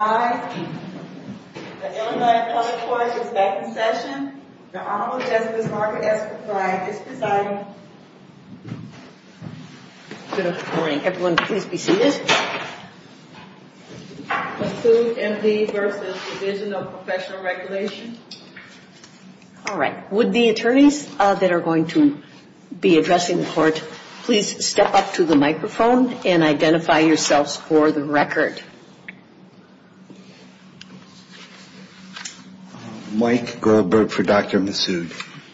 Hi. The Illinois Appellate Court is back in session. The Honorable Justice Margaret S. McBride is presiding. Good morning. Everyone please be seated. Masood MP v. Division of Professional Regulation. All right. Would the attorneys that are going to be addressing the court please step up to the microphone and identify yourselves for the record. Mike Goldberg for Dr. Masood.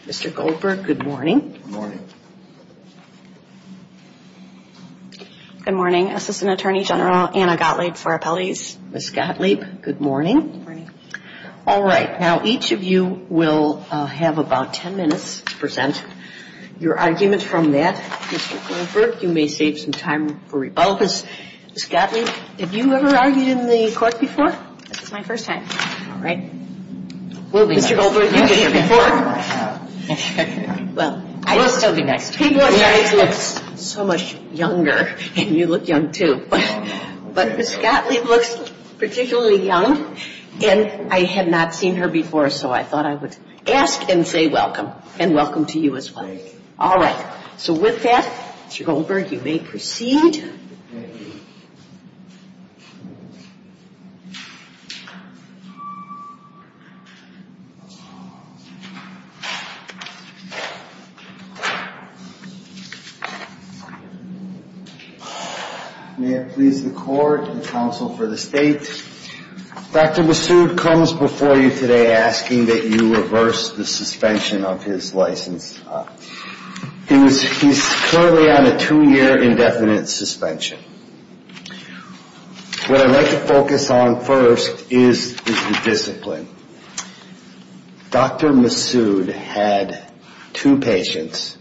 Mr. Goldberg, good morning. Good morning. Good morning. Assistant Attorney General Anna Gottlieb for Appellate. Good morning. All right. Now each of you will have about 10 minutes to present your argument from that. Mr. Goldberg, you may save some time for rebuttal. Ms. Gottlieb, have you ever argued in the court before? This is my first time. All right. Mr. Goldberg, you've been here before. Well, I will still be next. People at your age look so much younger, and you look young, too. But Ms. Gottlieb looks particularly young, and I had not seen her before, so I thought I would ask and say welcome, and welcome to you as well. Thank you. All right. So with that, Mr. Goldberg, you may proceed. Thank you. May it please the court and counsel for the state, Dr. Masood comes before you today asking that you reverse the suspension of his license. He's currently on a two-year indefinite suspension. What I'd like to focus on first is the discipline. Dr. Masood had two patients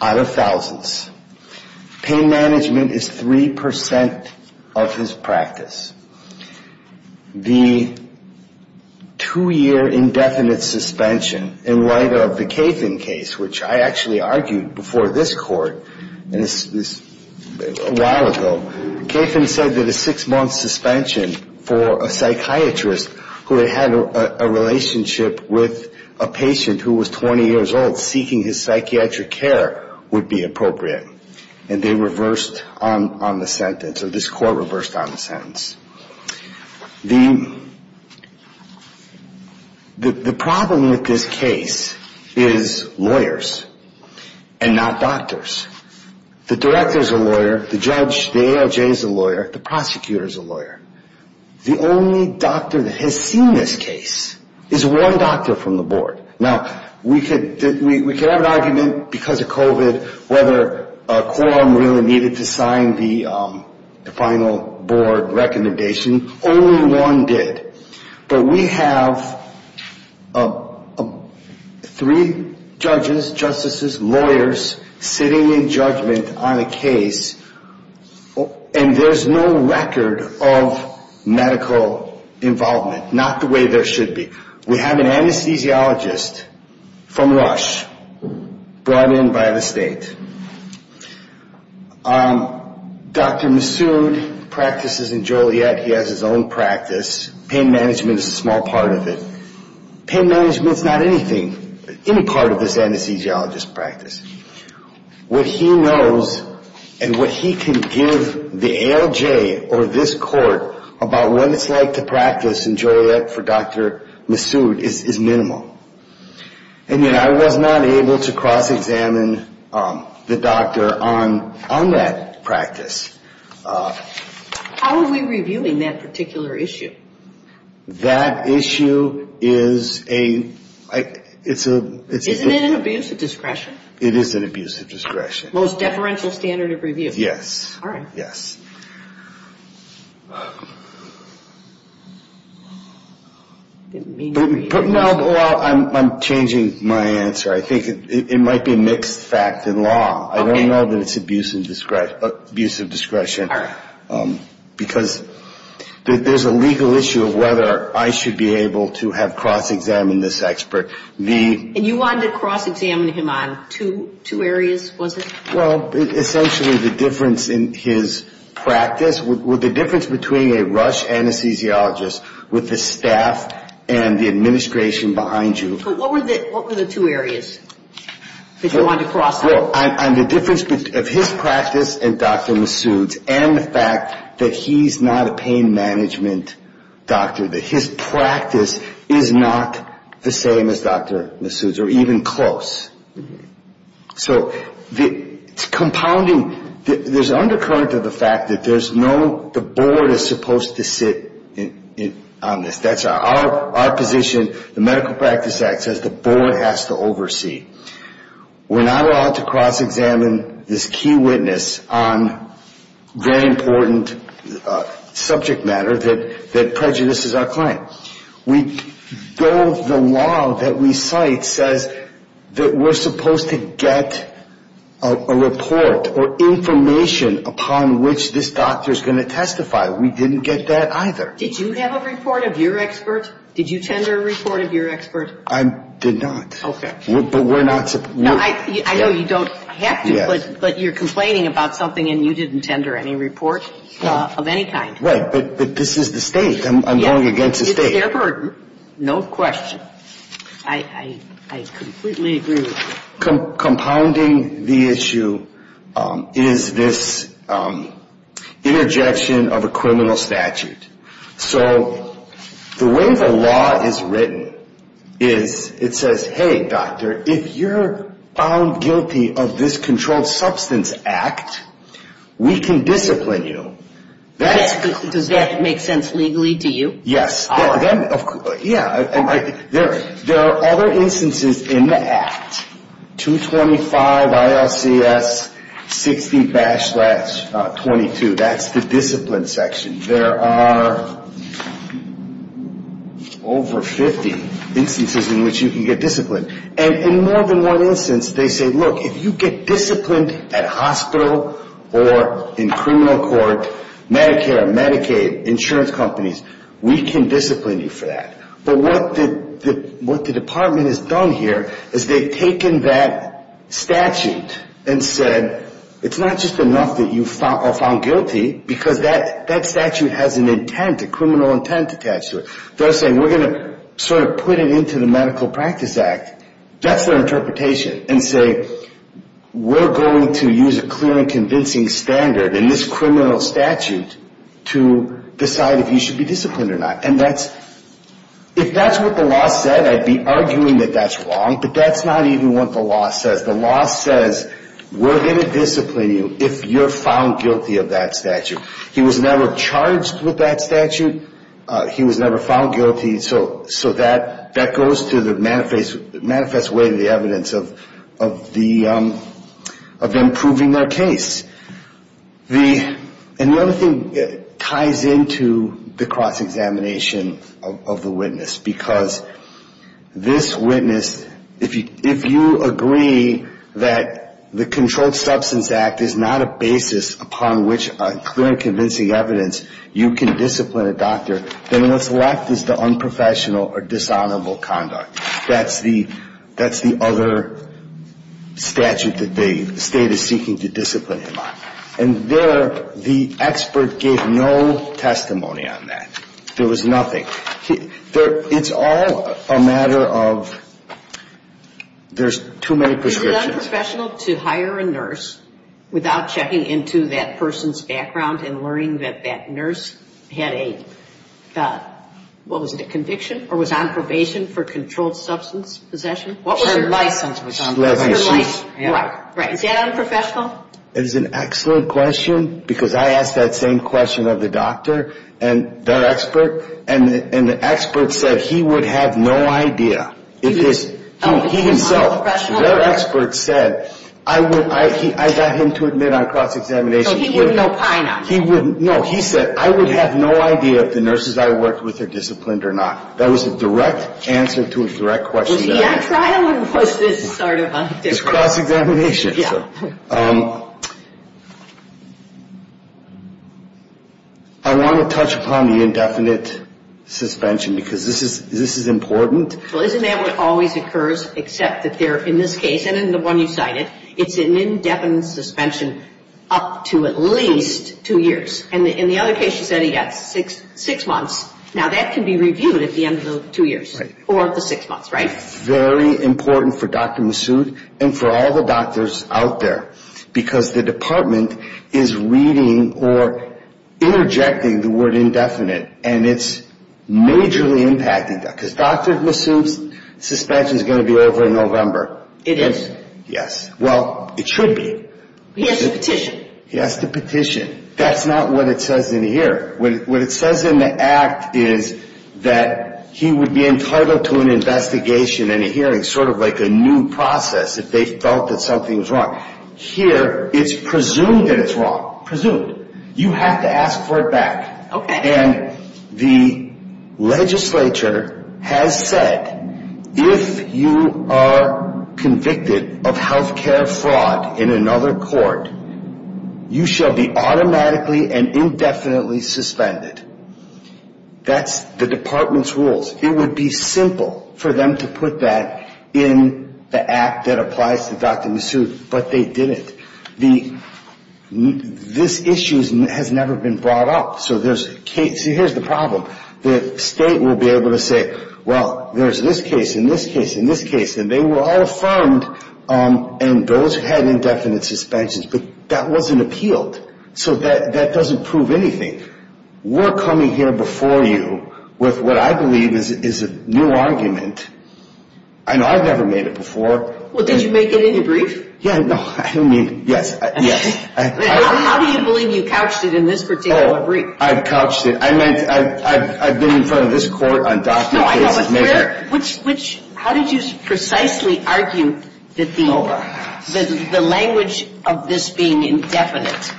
out of thousands. Pain management is 3% of his practice. The two-year indefinite suspension, in light of the Cathan case, which I actually argued before this court a while ago, Cathan said that a six-month suspension for a psychiatrist who had had a relationship with a patient who was 20 years old seeking his psychiatric care would be appropriate. And they reversed on the sentence, or this court reversed on the sentence. The problem with this case is lawyers and not doctors. The director is a lawyer. The judge, the ALJ is a lawyer. The prosecutor is a lawyer. The only doctor that has seen this case is one doctor from the board. Now, we could have an argument because of COVID whether a quorum really needed to sign the final board recommendation. Only one did. But we have three judges, justices, lawyers sitting in judgment on a case, and there's no record of medical involvement, not the way there should be. We have an anesthesiologist from Rush brought in by the state. Dr. Masood practices in Joliet. He has his own practice. Pain management is a small part of it. Pain management is not anything, any part of this anesthesiologist's practice. What he knows and what he can give the ALJ or this court about what it's like to practice in Joliet for Dr. Masood is minimal. And yet I was not able to cross-examine the doctor on that practice. How are we reviewing that particular issue? That issue is a ‑‑ Isn't it an abuse of discretion? It is an abuse of discretion. Most deferential standard of review. Yes. All right. Yes. I didn't mean to be ‑‑ No, I'm changing my answer. I think it might be a mixed fact in law. Okay. I don't know that it's abuse of discretion. All right. Because there's a legal issue of whether I should be able to have cross-examined this expert. And you wanted to cross-examine him on two areas, was it? Well, essentially the difference in his practice, the difference between a Rush anesthesiologist with the staff and the administration behind you. So what were the two areas that you wanted to cross on? Well, on the difference of his practice and Dr. Masood's and the fact that he's not a pain management doctor, that his practice is not the same as Dr. Masood's or even close. So it's compounding. There's an undercurrent of the fact that there's no ‑‑ the board is supposed to sit on this. That's our position. The Medical Practice Act says the board has to oversee. We're not allowed to cross-examine this key witness on very important subject matter that prejudices our client. We go, the law that we cite says that we're supposed to get a report or information upon which this doctor is going to testify. We didn't get that either. Did you have a report of your expert? Did you tender a report of your expert? I did not. Okay. But we're not ‑‑ I know you don't have to, but you're complaining about something and you didn't tender any report of any kind. Right. But this is the state. I'm going against the state. It's their burden. No question. I completely agree with you. Compounding the issue is this interjection of a criminal statute. So the way the law is written is it says, hey, doctor, if you're found guilty of this controlled substance act, we can discipline you. Does that make sense legally to you? Yes. All right. Yeah. There are other instances in the act, 225 ILCS 60‑22. That's the discipline section. There are over 50 instances in which you can get disciplined. And in more than one instance, they say, look, if you get disciplined at a hospital or in criminal court, Medicare, Medicaid, insurance companies, we can discipline you for that. But what the department has done here is they've taken that statute and said it's not just enough that you are found guilty because that statute has an intent, a criminal intent attached to it. They're saying we're going to sort of put it into the medical practice act. That's their interpretation and say we're going to use a clear and convincing standard in this criminal statute to decide if you should be disciplined or not. If that's what the law said, I'd be arguing that that's wrong, but that's not even what the law says. The law says we're going to discipline you if you're found guilty of that statute. He was never charged with that statute. He was never found guilty. So that goes to the manifest way to the evidence of them proving their case. And the other thing ties into the cross-examination of the witness, because this witness, if you agree that the Controlled Substance Act is not a basis upon which on clear and convincing evidence you can discipline a doctor, then what's left is the unprofessional or dishonorable conduct. That's the other statute that the state is seeking to discipline him on. And there the expert gave no testimony on that. There was nothing. It's all a matter of there's too many prescriptions. So is it unprofessional to hire a nurse without checking into that person's background and learning that that nurse had a, what was it, a conviction or was on probation for controlled substance possession? Her license was on probation. Is that unprofessional? It's an excellent question, because I asked that same question of the doctor and their expert, and the expert said he would have no idea. He himself, their expert said, I got him to admit on cross-examination. So he wouldn't know pine on that? No, he said, I would have no idea if the nurses I worked with are disciplined or not. That was a direct answer to a direct question. Was he on trial or was this sort of a different question? It's cross-examination. I want to touch upon the indefinite suspension, because this is important. Well, isn't that what always occurs, except that they're, in this case, and in the one you cited, it's an indefinite suspension up to at least two years. And in the other case, you said he got six months. Now, that can be reviewed at the end of the two years or the six months, right? Very important for Dr. Massoud and for all the doctors out there, because the department is reading or interjecting the word indefinite, and it's majorly impacting that. Because Dr. Massoud's suspension is going to be over in November. It is? Yes. Well, it should be. He has to petition. He has to petition. That's not what it says in the hearing. What it says in the act is that he would be entitled to an investigation and a hearing, sort of like a new process, if they felt that something was wrong. Here, it's presumed that it's wrong. Presumed. You have to ask for it back. Okay. And the legislature has said, if you are convicted of health care fraud in another court, you shall be automatically and indefinitely suspended. That's the department's rules. It would be simple for them to put that in the act that applies to Dr. Massoud, but they didn't. This issue has never been brought up. So here's the problem. The state will be able to say, well, there's this case and this case and this case, and they were all affirmed, and those had indefinite suspensions, but that wasn't appealed. So that doesn't prove anything. We're coming here before you with what I believe is a new argument, and I've never made it before. Well, did you make it in your brief? Yeah, no, I mean, yes, yes. How do you believe you couched it in this particular brief? Oh, I've couched it. I've been in front of this court on documents. No, I know, but how did you precisely argue that the language of this being indefinite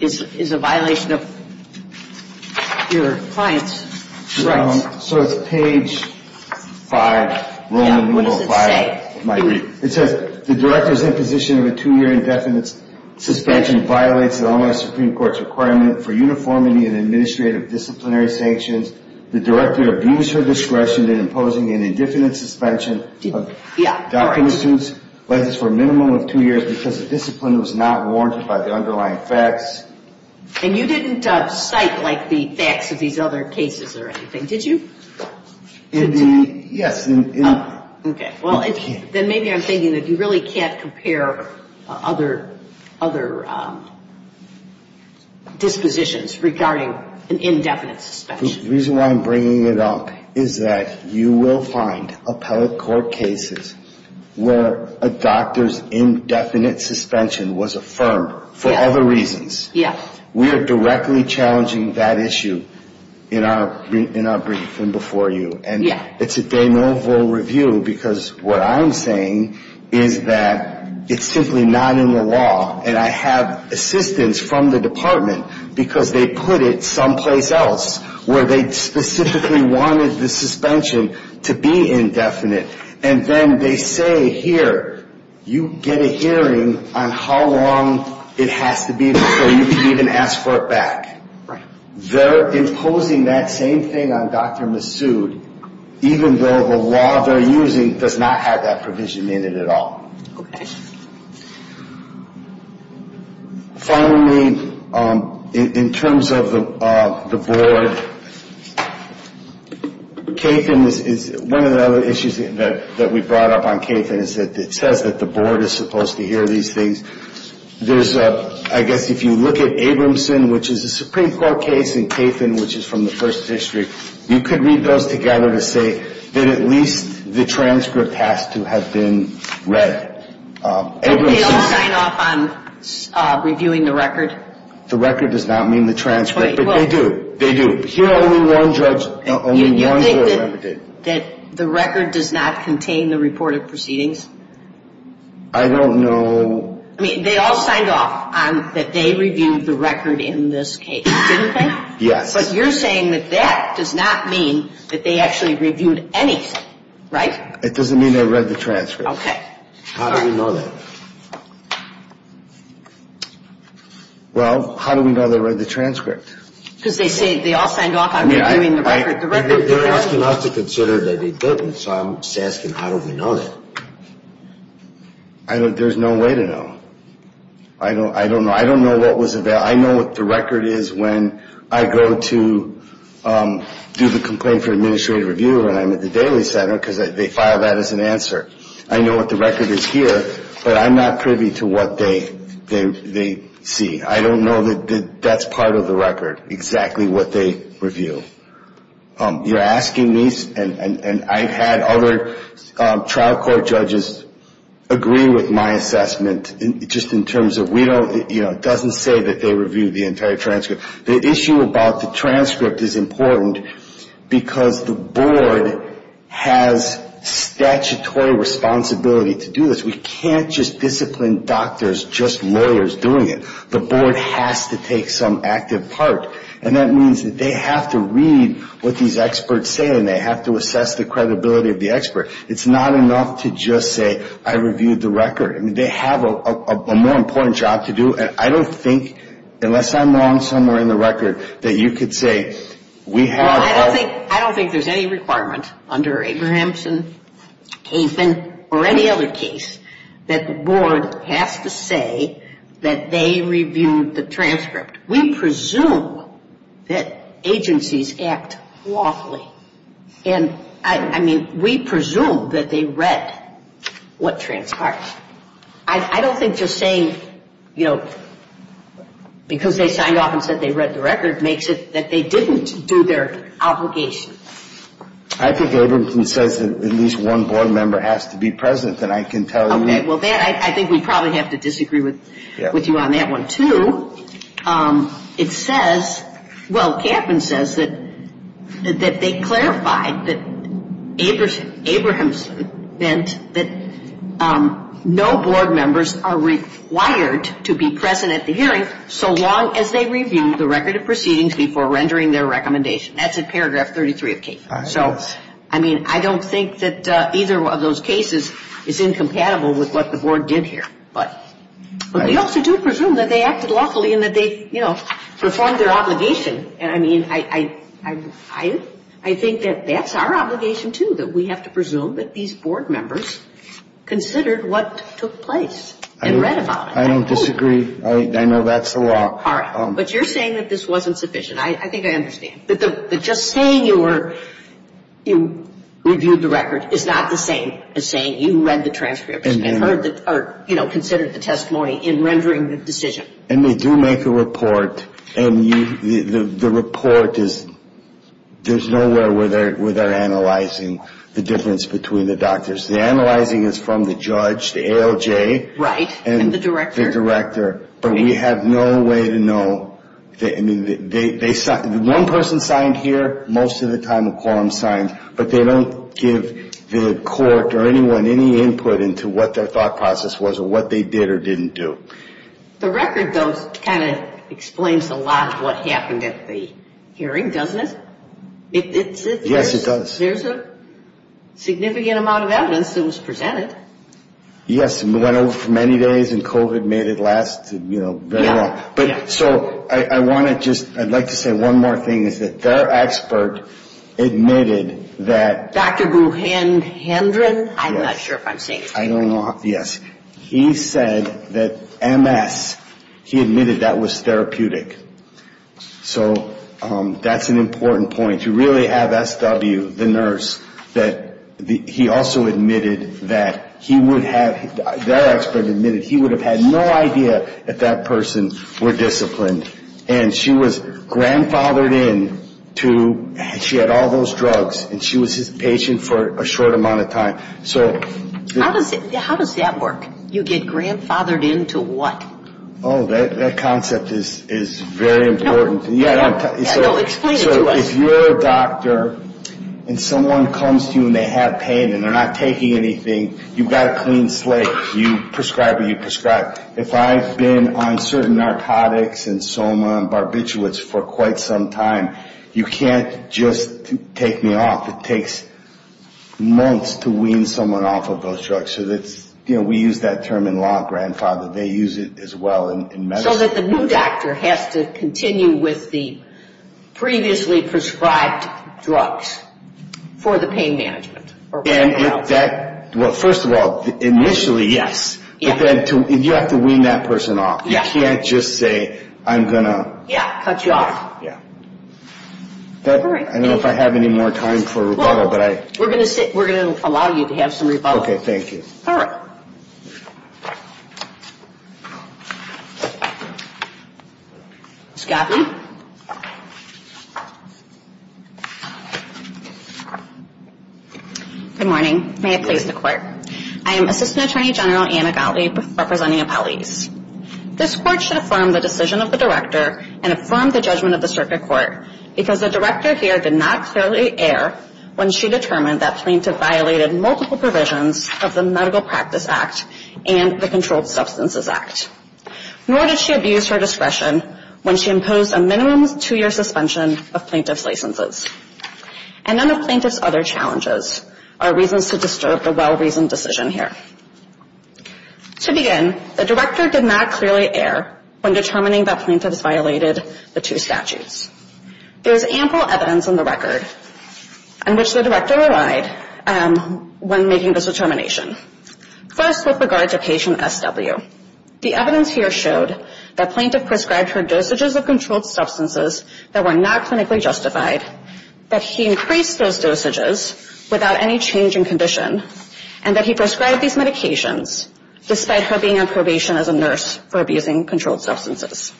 is a violation of your client's rights? So it's page 5. Yeah, what does it say? It says, the director's imposition of a two-year indefinite suspension violates the online Supreme Court's requirement for uniformity in administrative disciplinary sanctions. The director abused her discretion in imposing an indefinite suspension of Dock Institute's license for a minimum of two years because the discipline was not warranted by the underlying facts. And you didn't cite, like, the facts of these other cases or anything, did you? Yes. Okay, well, then maybe I'm thinking that you really can't compare other dispositions regarding an indefinite suspension. The reason why I'm bringing it up is that you will find appellate court cases where a doctor's indefinite suspension was affirmed for other reasons. Yeah. We are directly challenging that issue in our briefing before you. Yeah. And it's a de novo review because what I'm saying is that it's simply not in the law. And I have assistance from the department because they put it someplace else where they specifically wanted the suspension to be indefinite. And then they say, here, you get a hearing on how long it has to be before you can even ask for it back. Right. They're imposing that same thing on Dr. Massoud even though the law they're using does not have that provision in it at all. Okay. Finally, in terms of the board, Cathan is one of the other issues that we brought up on Cathan is that it says that the board is supposed to hear these things. There's a I guess if you look at Abramson, which is a Supreme Court case in Cathan, which is from the first district, you could read those together to say that at least the transcript has to have been read. Did they all sign off on reviewing the record? The record does not mean the transcript, but they do. They do. Here only one judge, only one judge. You think that the record does not contain the reported proceedings? I don't know. I mean, they all signed off on that they reviewed the record in this case, didn't they? Yes. But you're saying that that does not mean that they actually reviewed anything, right? It doesn't mean they read the transcript. Okay. How do we know that? Well, how do we know they read the transcript? Because they say they all signed off on reviewing the record. They're asking us to consider that they didn't, so I'm just asking how do we know that? There's no way to know. I don't know. I don't know what was available. I know what the record is when I go to do the complaint for administrative review and I'm at the daily center because they file that as an answer. I know what the record is here, but I'm not privy to what they see. I don't know that that's part of the record, exactly what they review. You're asking me, and I've had other trial court judges agree with my assessment, just in terms of we don't, you know, it doesn't say that they reviewed the entire transcript. The issue about the transcript is important because the board has statutory responsibility to do this. We can't just discipline doctors, just lawyers doing it. The board has to take some active part. And that means that they have to read what these experts say and they have to assess the credibility of the expert. It's not enough to just say I reviewed the record. I mean, they have a more important job to do. And I don't think, unless I'm wrong somewhere in the record, that you could say we have a Well, I don't think there's any requirement under Abrahamson, Kaifman, or any other case that the board has to say that they reviewed the transcript. We presume that agencies act lawfully. And, I mean, we presume that they read what transpired. I don't think just saying, you know, because they signed off and said they read the record makes it that they didn't do their obligation. I think Abrahamson says that at least one board member has to be present, then I can tell you Okay, well, I think we probably have to disagree with you on that one, too. It says, well, Kaifman says that they clarified that Abrahamson meant that no board members are required to be present at the hearing so long as they review the record of proceedings before rendering their recommendation. That's in paragraph 33 of Kaifman. So, I mean, I don't think that either of those cases is incompatible with what the board did here. But we also do presume that they acted lawfully and that they, you know, performed their obligation. And, I mean, I think that that's our obligation, too, that we have to presume that these board members considered what took place and read about it. I don't disagree. I know that's the law. All right. But you're saying that this wasn't sufficient. I think I understand. But just saying you reviewed the record is not the same as saying you read the transcript and considered the testimony in rendering the decision. And they do make a report. And the report is, there's nowhere where they're analyzing the difference between the doctors. The analyzing is from the judge, the ALJ. Right. And the director. And the director. But we have no way to know. I mean, one person signed here. Most of the time a quorum signed. But they don't give the court or anyone any input into what their thought process was or what they did or didn't do. The record, though, kind of explains a lot of what happened at the hearing, doesn't it? Yes, it does. There's a significant amount of evidence that was presented. Yes. It went over for many days and COVID made it last, you know, very long. But so I want to just, I'd like to say one more thing is that their expert admitted that. Dr. Buchandran? Yes. I'm not sure if I'm saying. I don't know. Yes. He said that MS, he admitted that was therapeutic. So that's an important point. You really have SW, the nurse, that he also admitted that he would have, their expert admitted he would have had no idea if that person were disciplined. And she was grandfathered in to, she had all those drugs, and she was his patient for a short amount of time. So. How does that work? You get grandfathered in to what? Oh, that concept is very important. No, explain it to us. So if you're a doctor and someone comes to you and they have pain and they're not taking anything, you've got a clean slate. You prescribe what you prescribe. If I've been on certain narcotics and soma and barbiturates for quite some time, you can't just take me off. It takes months to wean someone off of those drugs. So that's, you know, we use that term in law, grandfather. They use it as well in medicine. So that the new doctor has to continue with the previously prescribed drugs for the pain management. Well, first of all, initially, yes. But then you have to wean that person off. You can't just say, I'm going to. Yeah, cut you off. Yeah. All right. I don't know if I have any more time for rebuttal, but I. We're going to allow you to have some rebuttal. Okay, thank you. All right. Ms. Gaffney. Good morning. May it please the Court. I am Assistant Attorney General Anna Gottlieb representing Appellees. This Court should affirm the decision of the Director and affirm the judgment of the Circuit Court because the Director here did not clearly err when she determined that plaintiff violated multiple provisions of the Medical Practice Act and the Controlled Substances Act. Nor did she abuse her discretion when she imposed a minimum two-year suspension of plaintiff's licenses. And none of plaintiff's other challenges are reasons to disturb the well-reasoned decision here. To begin, the Director did not clearly err when determining that plaintiffs violated the two statutes. There's ample evidence in the record in which the Director relied when making this determination. First, with regard to patient SW. The evidence here showed that plaintiff prescribed her dosages of controlled substances that were not clinically justified, that he increased those dosages without any change in condition, and that he prescribed these medications despite her being on probation as a nurse for abusing controlled substances.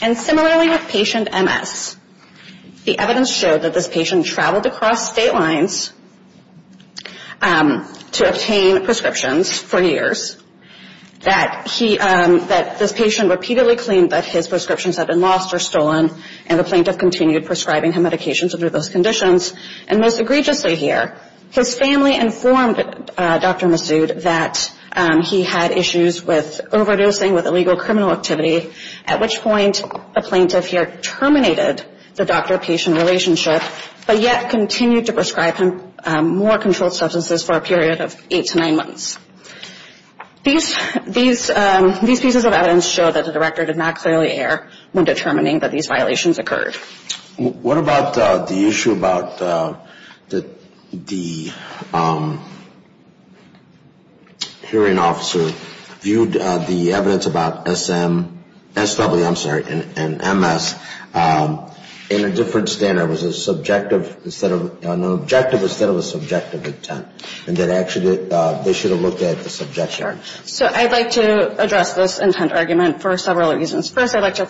And similarly with patient MS. The evidence showed that this patient traveled across state lines to obtain prescriptions for years, that this patient repeatedly claimed that his prescriptions had been lost or stolen, and the plaintiff continued prescribing her medications under those conditions. And most egregiously here, his family informed Dr. Massoud that he had issues with overdosing, with illegal criminal activity, at which point the plaintiff here terminated the doctor-patient relationship, but yet continued to prescribe him more controlled substances for a period of eight to nine months. These pieces of evidence show that the Director did not clearly err when determining that these violations occurred. What about the issue about the hearing officer viewed the evidence about SW and MS in a different standard? Was it an objective instead of a subjective intent? And that actually they should have looked at the subject here. So I'd like to address this intent argument for several reasons. First, I'd like to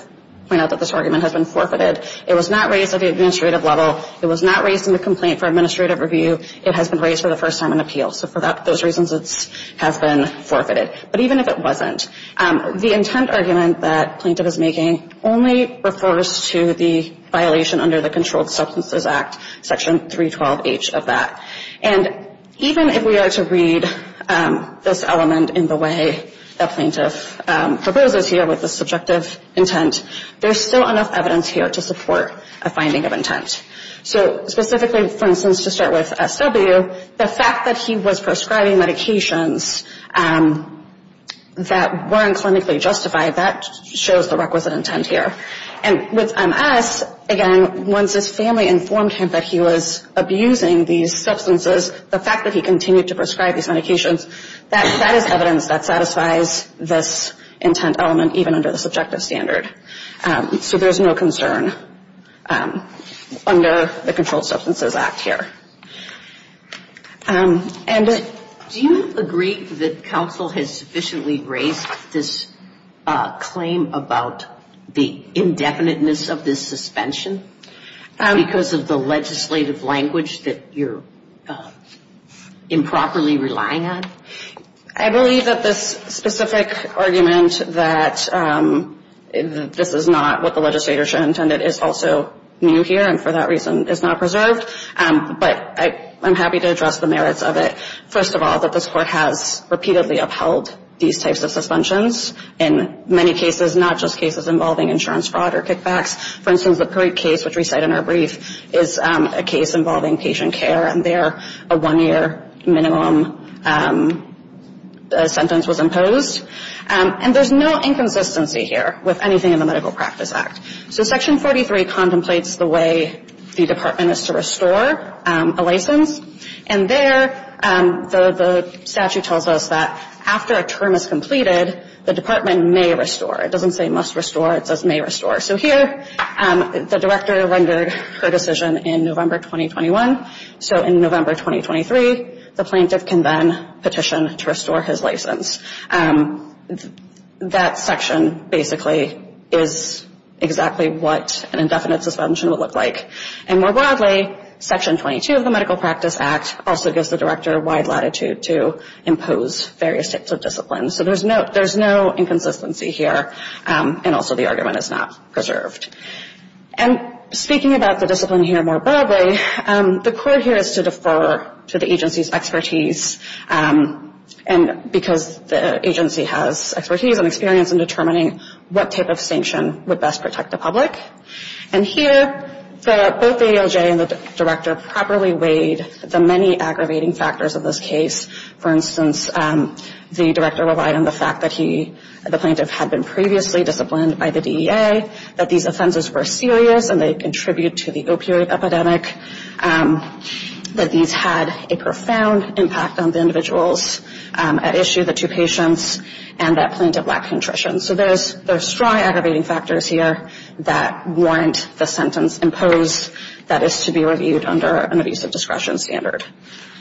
point out that this argument has been forfeited. It was not raised at the administrative level. It was not raised in the complaint for administrative review. It has been raised for the first time in appeals. So for those reasons, it has been forfeited. But even if it wasn't, the intent argument that plaintiff is making only refers to the violation under the Controlled Substances Act, Section 312H of that. And even if we are to read this element in the way the plaintiff proposes here with the subjective intent, there's still enough evidence here to support a finding of intent. So specifically, for instance, to start with SW, the fact that he was prescribing medications that weren't clinically justified, that shows the requisite intent here. And with MS, again, once his family informed him that he was abusing these substances, the fact that he continued to prescribe these medications, that is evidence that satisfies this intent element, even under the subjective standard. So there's no concern under the Controlled Substances Act here. And do you agree that counsel has sufficiently raised this claim about the indefiniteness of this suspension because of the legislative language that you're improperly relying on? I believe that this specific argument that this is not what the legislator should have intended is also new here and for that reason is not preserved. But I'm happy to address the merits of it. First of all, that this Court has repeatedly upheld these types of suspensions in many cases, not just cases involving insurance fraud or kickbacks. For instance, the Perry case, which we cite in our brief, is a case involving patient care, and there a one-year minimum sentence was imposed. And there's no inconsistency here with anything in the Medical Practice Act. So Section 43 contemplates the way the department is to restore a license, and there the statute tells us that after a term is completed, the department may restore. It doesn't say must restore. It says may restore. So here the director rendered her decision in November 2021. So in November 2023, the plaintiff can then petition to restore his license. That section basically is exactly what an indefinite suspension would look like. And more broadly, Section 22 of the Medical Practice Act also gives the director wide latitude to impose various types of disciplines. So there's no inconsistency here, and also the argument is not preserved. And speaking about the discipline here more broadly, the Court here is to defer to the agency's expertise, because the agency has expertise and experience in determining what type of sanction would best protect the public. And here both the ALJ and the director properly weighed the many aggravating factors of this case. For instance, the director relied on the fact that the plaintiff had been previously disciplined by the DEA, that these offenses were serious and they contribute to the opioid epidemic, that these had a profound impact on the individuals at issue, the two patients, and that plaintiff lacked nutrition. So there's strong aggravating factors here that warrant the sentence imposed that is to be reviewed under an abusive discretion standard.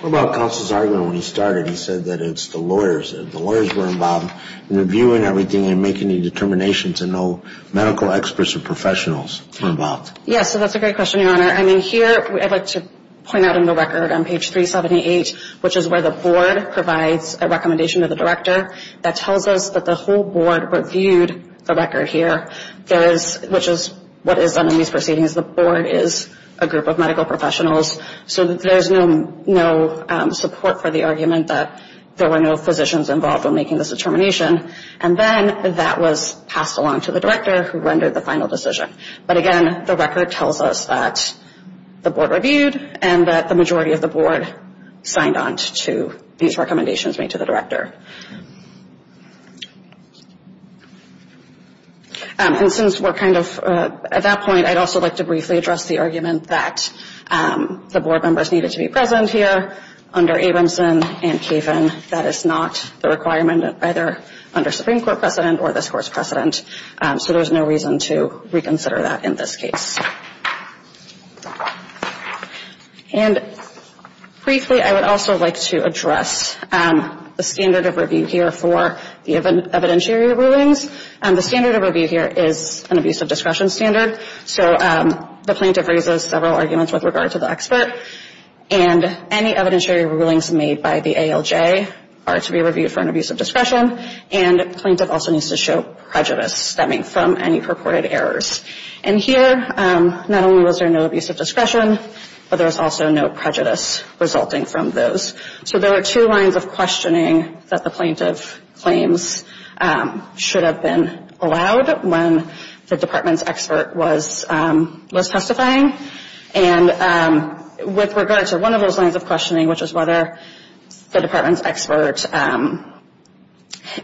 What about Counsel's argument when he started? He said that it's the lawyers. The lawyers were involved in reviewing everything and making the determinations, and no medical experts or professionals were involved. Yes, so that's a great question, Your Honor. I mean, here I'd like to point out in the record on page 378, which is where the board provides a recommendation to the director that tells us that the whole board reviewed the record here, which is what is done in these proceedings. The board is a group of medical professionals, so there's no support for the argument that there were no physicians involved in making this determination. And then that was passed along to the director who rendered the final decision. But again, the record tells us that the board reviewed and that the majority of the board signed on to these recommendations made to the director. And since we're kind of at that point, I'd also like to briefly address the argument that the board members needed to be present here under Abramson and Kaven. That is not the requirement either under Supreme Court precedent or this Court's precedent, so there's no reason to reconsider that in this case. And briefly, I would also like to address the standard of review here for the evidentiary rulings. The standard of review here is an abuse of discretion standard, so the plaintiff raises several arguments with regard to the expert, and any evidentiary rulings made by the ALJ are to be reviewed for an abuse of discretion, and the plaintiff also needs to show prejudice stemming from any reported errors. And here, not only was there no abuse of discretion, but there was also no prejudice resulting from those. So there were two lines of questioning that the plaintiff claims should have been allowed when the department's expert was testifying. And with regard to one of those lines of questioning, which was whether the department's expert,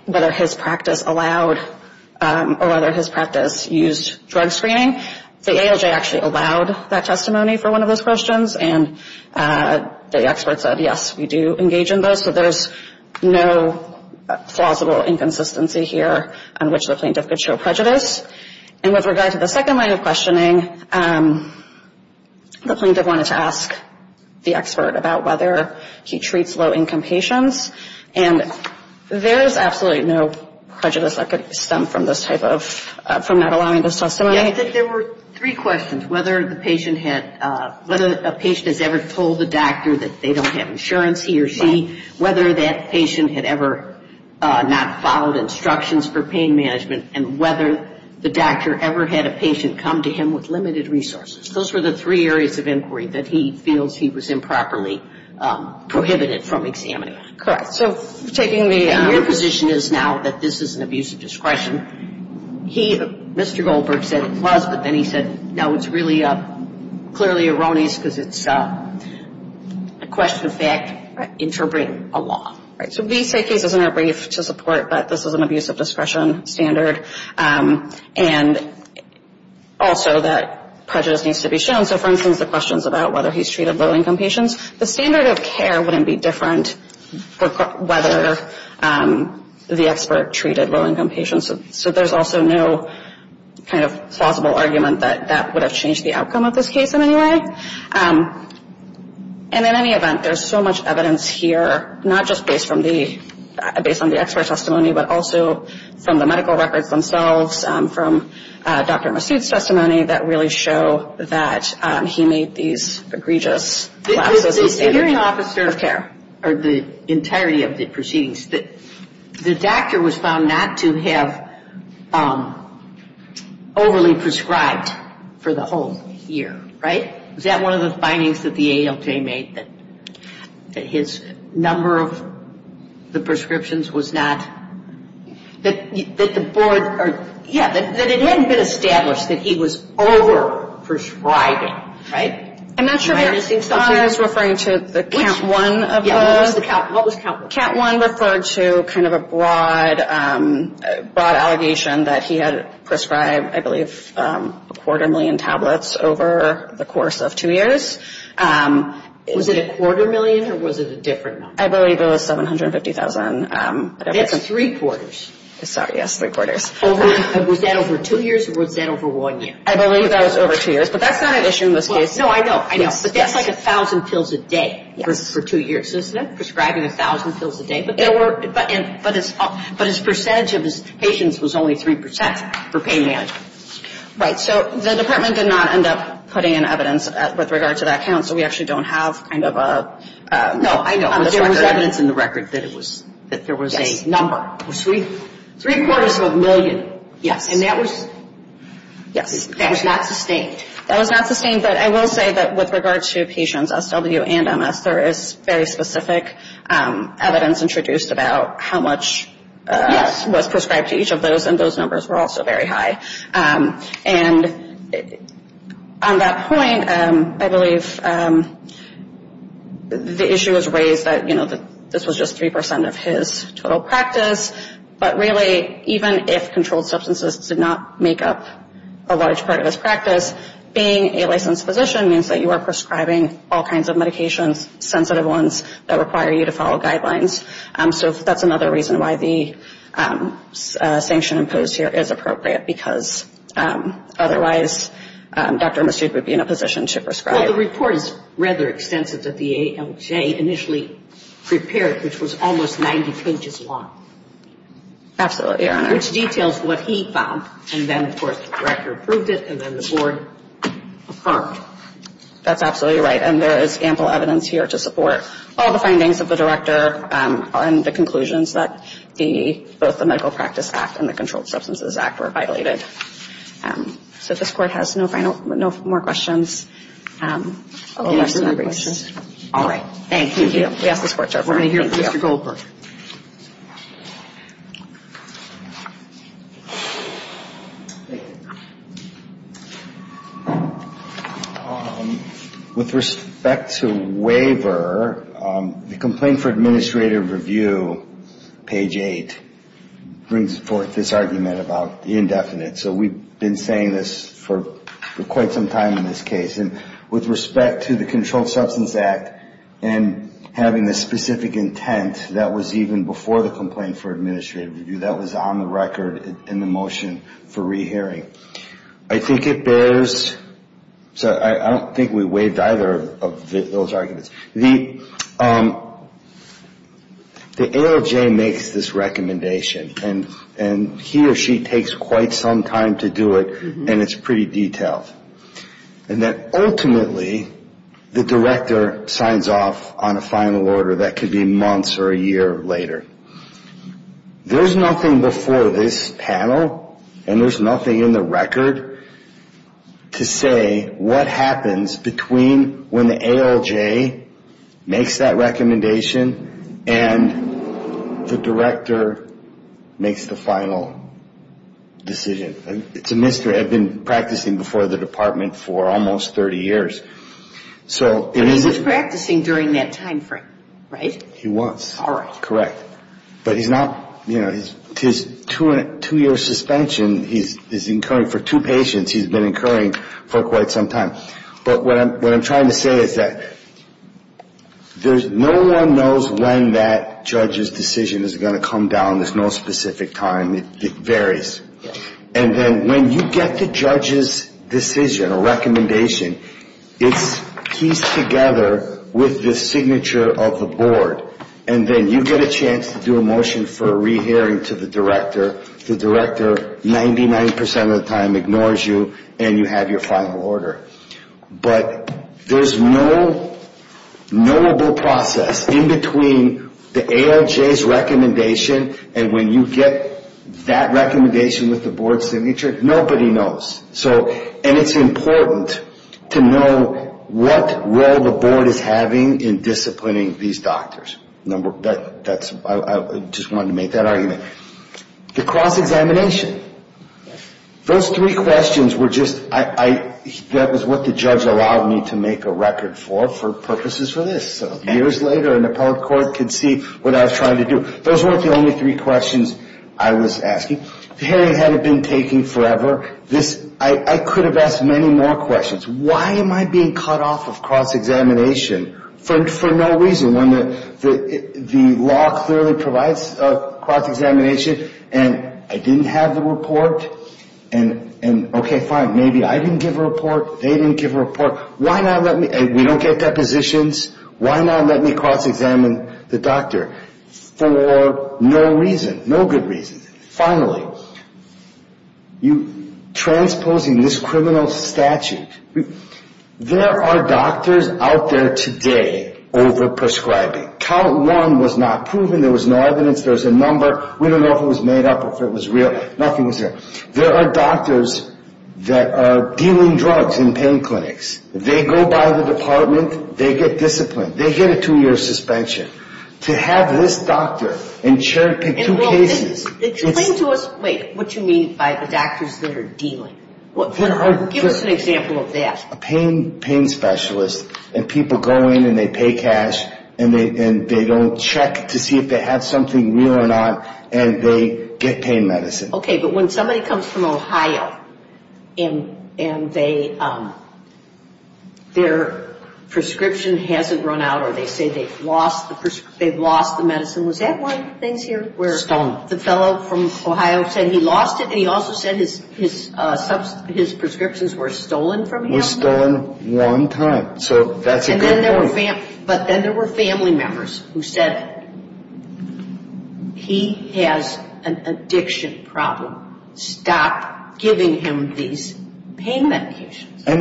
whether his practice allowed or whether his practice used drug screening, the ALJ actually allowed that testimony for one of those questions, and the expert said, yes, we do engage in those. So there's no plausible inconsistency here on which the plaintiff could show prejudice. And with regard to the second line of questioning, the plaintiff wanted to ask the expert about whether he treats low-income patients, and there's absolutely no prejudice that could stem from this type of, from not allowing this testimony. I think there were three questions, whether the patient had, whether a patient has ever told the doctor that they don't have insurance, he or she, whether that patient had ever not followed instructions for pain management, and whether the doctor ever had a patient come to him with limited resources. Those were the three areas of inquiry that he feels he was improperly prohibited from examining. Correct. So taking the other position is now that this is an abuse of discretion. He, Mr. Goldberg, said it was, but then he said, no, it's really clearly erroneous because it's a question of fact interbreeding a law. All right, so these three cases are brief to support that this is an abuse of discretion standard and also that prejudice needs to be shown. So for instance, the questions about whether he's treated low-income patients, the standard of care wouldn't be different for whether the expert treated low-income patients. So there's also no kind of plausible argument that that would have changed the outcome of this case in any way. And in any event, there's so much evidence here, not just based on the expert testimony, but also from the medical records themselves, from Dr. Massoud's testimony, that really show that he made these egregious lapses in the standard of care. The hearing officer, or the entirety of the proceedings, the doctor was found not to have overly prescribed for the whole year, right? Is that one of the findings that the ALJ made, that his number of the prescriptions was not, that the board, yeah, that it hadn't been established that he was over-prescribing, right? I'm not sure I understand. I thought I was referring to the count one of those. Yeah, what was count one? Count one referred to kind of a broad allegation that he had prescribed, I believe, a quarter million tablets over the course of two years. Was it a quarter million, or was it a different number? I believe it was 750,000. That's three quarters. Sorry, yes, three quarters. Was that over two years, or was that over one year? I believe that was over two years, but that's not an issue in this case. No, I know, I know. But that's like 1,000 pills a day for two years, isn't it, prescribing 1,000 pills a day? But his percentage of his patients was only 3% for pain management. Right, so the department did not end up putting in evidence with regard to that count, so we actually don't have kind of a record. No, I know, but there was evidence in the record that there was a number. Three quarters of a million. Yes. And that was not sustained. That was not sustained, but I will say that with regard to patients, SW and MS, there is very specific evidence introduced about how much was prescribed to each of those, and those numbers were also very high. And on that point, I believe the issue was raised that, you know, this was just 3% of his total practice, but really even if controlled substances did not make up a large part of his practice, being a licensed physician means that you are prescribing all kinds of medications, sensitive ones that require you to follow guidelines. So that's another reason why the sanction imposed here is appropriate, because otherwise Dr. Massoud would be in a position to prescribe. Well, the report is rather extensive that the ALJ initially prepared, which was almost 90 pages long. Absolutely, Your Honor. Which details what he found, and then, of course, the director approved it, and then the board affirmed. That's absolutely right. And there is ample evidence here to support all the findings of the director and the conclusions that both the Medical Practice Act and the Controlled Substances Act were violated. So this Court has no more questions. All right. Thank you. We ask the Court to adjourn. Thank you, Mr. Goldberg. With respect to waiver, the Complaint for Administrative Review, page 8, brings forth this argument about the indefinite. So we've been saying this for quite some time in this case. And with respect to the Controlled Substances Act and having the specific intent that was even before the Complaint for Administrative Review, that was on the record in the motion for rehearing, I think it bears. So I don't think we waived either of those arguments. The ALJ makes this recommendation, and he or she takes quite some time to do it, and it's pretty detailed. And then, ultimately, the director signs off on a final order that could be months or a year later. There's nothing before this panel, and there's nothing in the record, to say what happens between when the ALJ makes that recommendation and the director makes the final decision. It's a mystery. I've been practicing before the Department for almost 30 years. So it is a ---- He was practicing during that time frame, right? He was. All right. Correct. But he's not, you know, his two-year suspension, he's incurring for two patients, he's been incurring for quite some time. But what I'm trying to say is that no one knows when that judge's decision is going to come down. There's no specific time. It varies. And then when you get the judge's decision or recommendation, it's pieced together with the signature of the board. And then you get a chance to do a motion for a rehearing to the director. The director, 99% of the time, ignores you, and you have your final order. But there's no knowable process in between the ALJ's recommendation and when you get that recommendation with the board's signature. Nobody knows. And it's important to know what role the board is having in disciplining these doctors. I just wanted to make that argument. The cross-examination, those three questions were just ---- that was what the judge allowed me to make a record for, for purposes for this. So years later, an appellate court could see what I was trying to do. Those weren't the only three questions I was asking. The hearing hadn't been taking forever. I could have asked many more questions. Why am I being cut off of cross-examination for no reason when the law clearly provides cross-examination and I didn't have the report? And, okay, fine, maybe I didn't give a report, they didn't give a report. Why not let me ---- we don't get depositions. Why not let me cross-examine the doctor for no reason, no good reason? Finally, transposing this criminal statute, there are doctors out there today over-prescribing. Count one was not proven. There was no evidence. There was a number. We don't know if it was made up or if it was real. Nothing was there. There are doctors that are dealing drugs in pain clinics. They go by the department. They get disciplined. They get a two-year suspension. To have this doctor in two cases ---- Explain to us, wait, what you mean by the doctors that are dealing. Give us an example of that. A pain specialist and people go in and they pay cash and they don't check to see if they have something real or not and they get pain medicine. Okay, but when somebody comes from Ohio and their prescription hasn't run out or they say they've lost the medicine, was that one of the things here? Stolen. The fellow from Ohio said he lost it and he also said his prescriptions were stolen from him. Were stolen one time. So that's a good point. But then there were family members who said he has an addiction problem. Stop giving him these pain medications. Then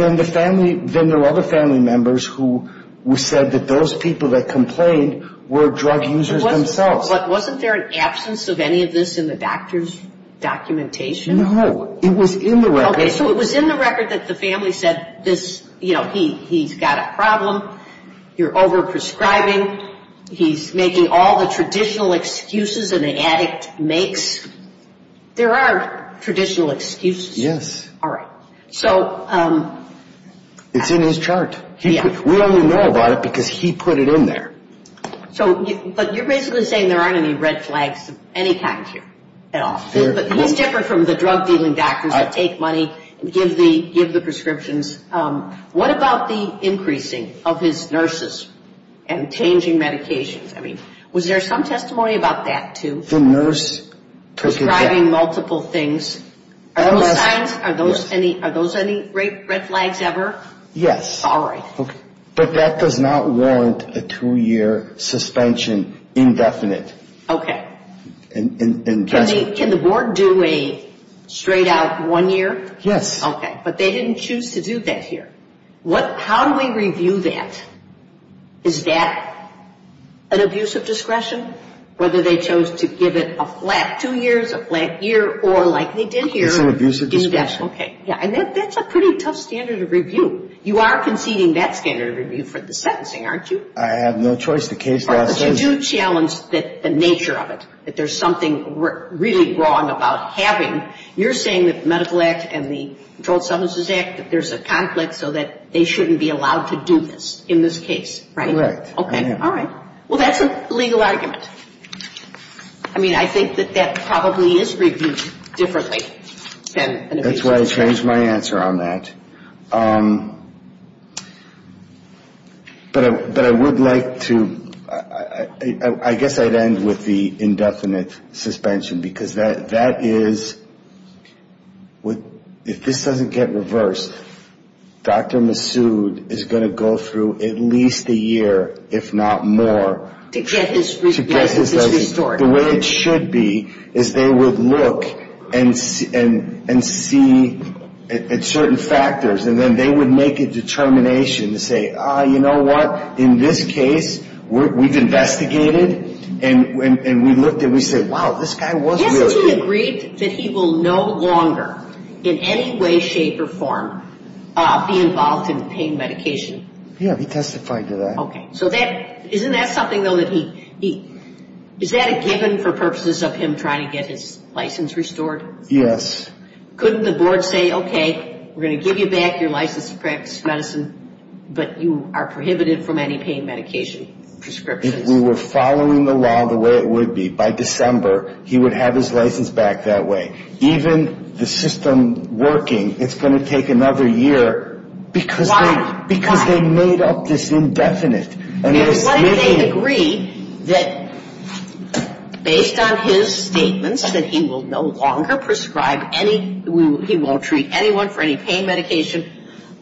there were other family members who said that those people that complained were drug users themselves. But wasn't there an absence of any of this in the doctor's documentation? No. It was in the record. Okay, so it was in the record that the family said this, you know, he's got a problem, you're overprescribing, he's making all the traditional excuses an addict makes. There are traditional excuses. Yes. All right. It's in his chart. We only know about it because he put it in there. But you're basically saying there aren't any red flags of any kind here at all. He's different from the drug dealing doctors that take money and give the prescriptions. What about the increasing of his nurses and changing medications? I mean, was there some testimony about that too? The nurse took it back. Prescribing multiple things. Are those signs, are those any red flags ever? Yes. All right. But that does not warrant a two-year suspension indefinite. Okay. Can the board do a straight-out one year? Yes. Okay, but they didn't choose to do that here. How do we review that? Is that an abuse of discretion? Whether they chose to give it a flat two years, a flat year, or like they did here. It's an abuse of discretion. Okay. Yeah, and that's a pretty tough standard of review. You are conceding that standard of review for the sentencing, aren't you? I have no choice. The case last sentence. But you do challenge the nature of it, that there's something really wrong about having. You're saying that the Medical Act and the Controlled Substances Act, that there's a conflict so that they shouldn't be allowed to do this in this case, right? Correct. All right. Well, that's a legal argument. I mean, I think that that probably is reviewed differently than an abuse of discretion. That's why I changed my answer on that. But I would like to... I guess I'd end with the indefinite suspension because that is... To get his... The way it should be is they would look and see certain factors, and then they would make a determination to say, you know what, in this case we've investigated, and we looked and we said, wow, this guy was... Hasn't he agreed that he will no longer in any way, shape, or form be involved in pain medication? Yeah, he testified to that. Okay. So isn't that something, though, that he... Is that a given for purposes of him trying to get his license restored? Yes. Couldn't the board say, okay, we're going to give you back your license to practice medicine, but you are prohibited from any pain medication prescriptions? If we were following the law the way it would be, by December he would have his license back that way. Even the system working, it's going to take another year because they... Why? Why? Why do they agree that based on his statements that he will no longer prescribe any, he won't treat anyone for any pain medication,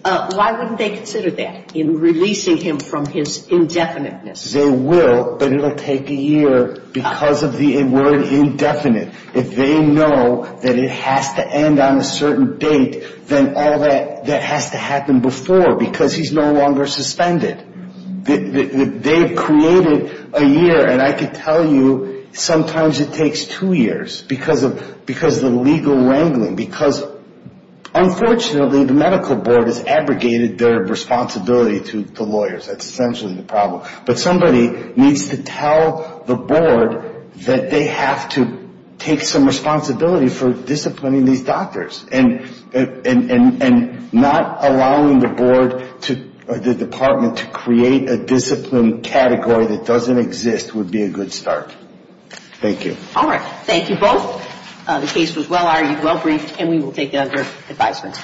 why wouldn't they consider that in releasing him from his indefiniteness? They will, but it will take a year because of the word indefinite. If they know that it has to end on a certain date, then all that has to happen before because he's no longer suspended. They've created a year, and I can tell you sometimes it takes two years because of the legal wrangling because unfortunately the medical board has abrogated their responsibility to the lawyers. That's essentially the problem. But somebody needs to tell the board that they have to take some responsibility for disciplining these doctors and not allowing the board or the department to create a discipline category that doesn't exist would be a good start. Thank you. All right. Thank you both. The case was well argued, well briefed, and we will take other advisements.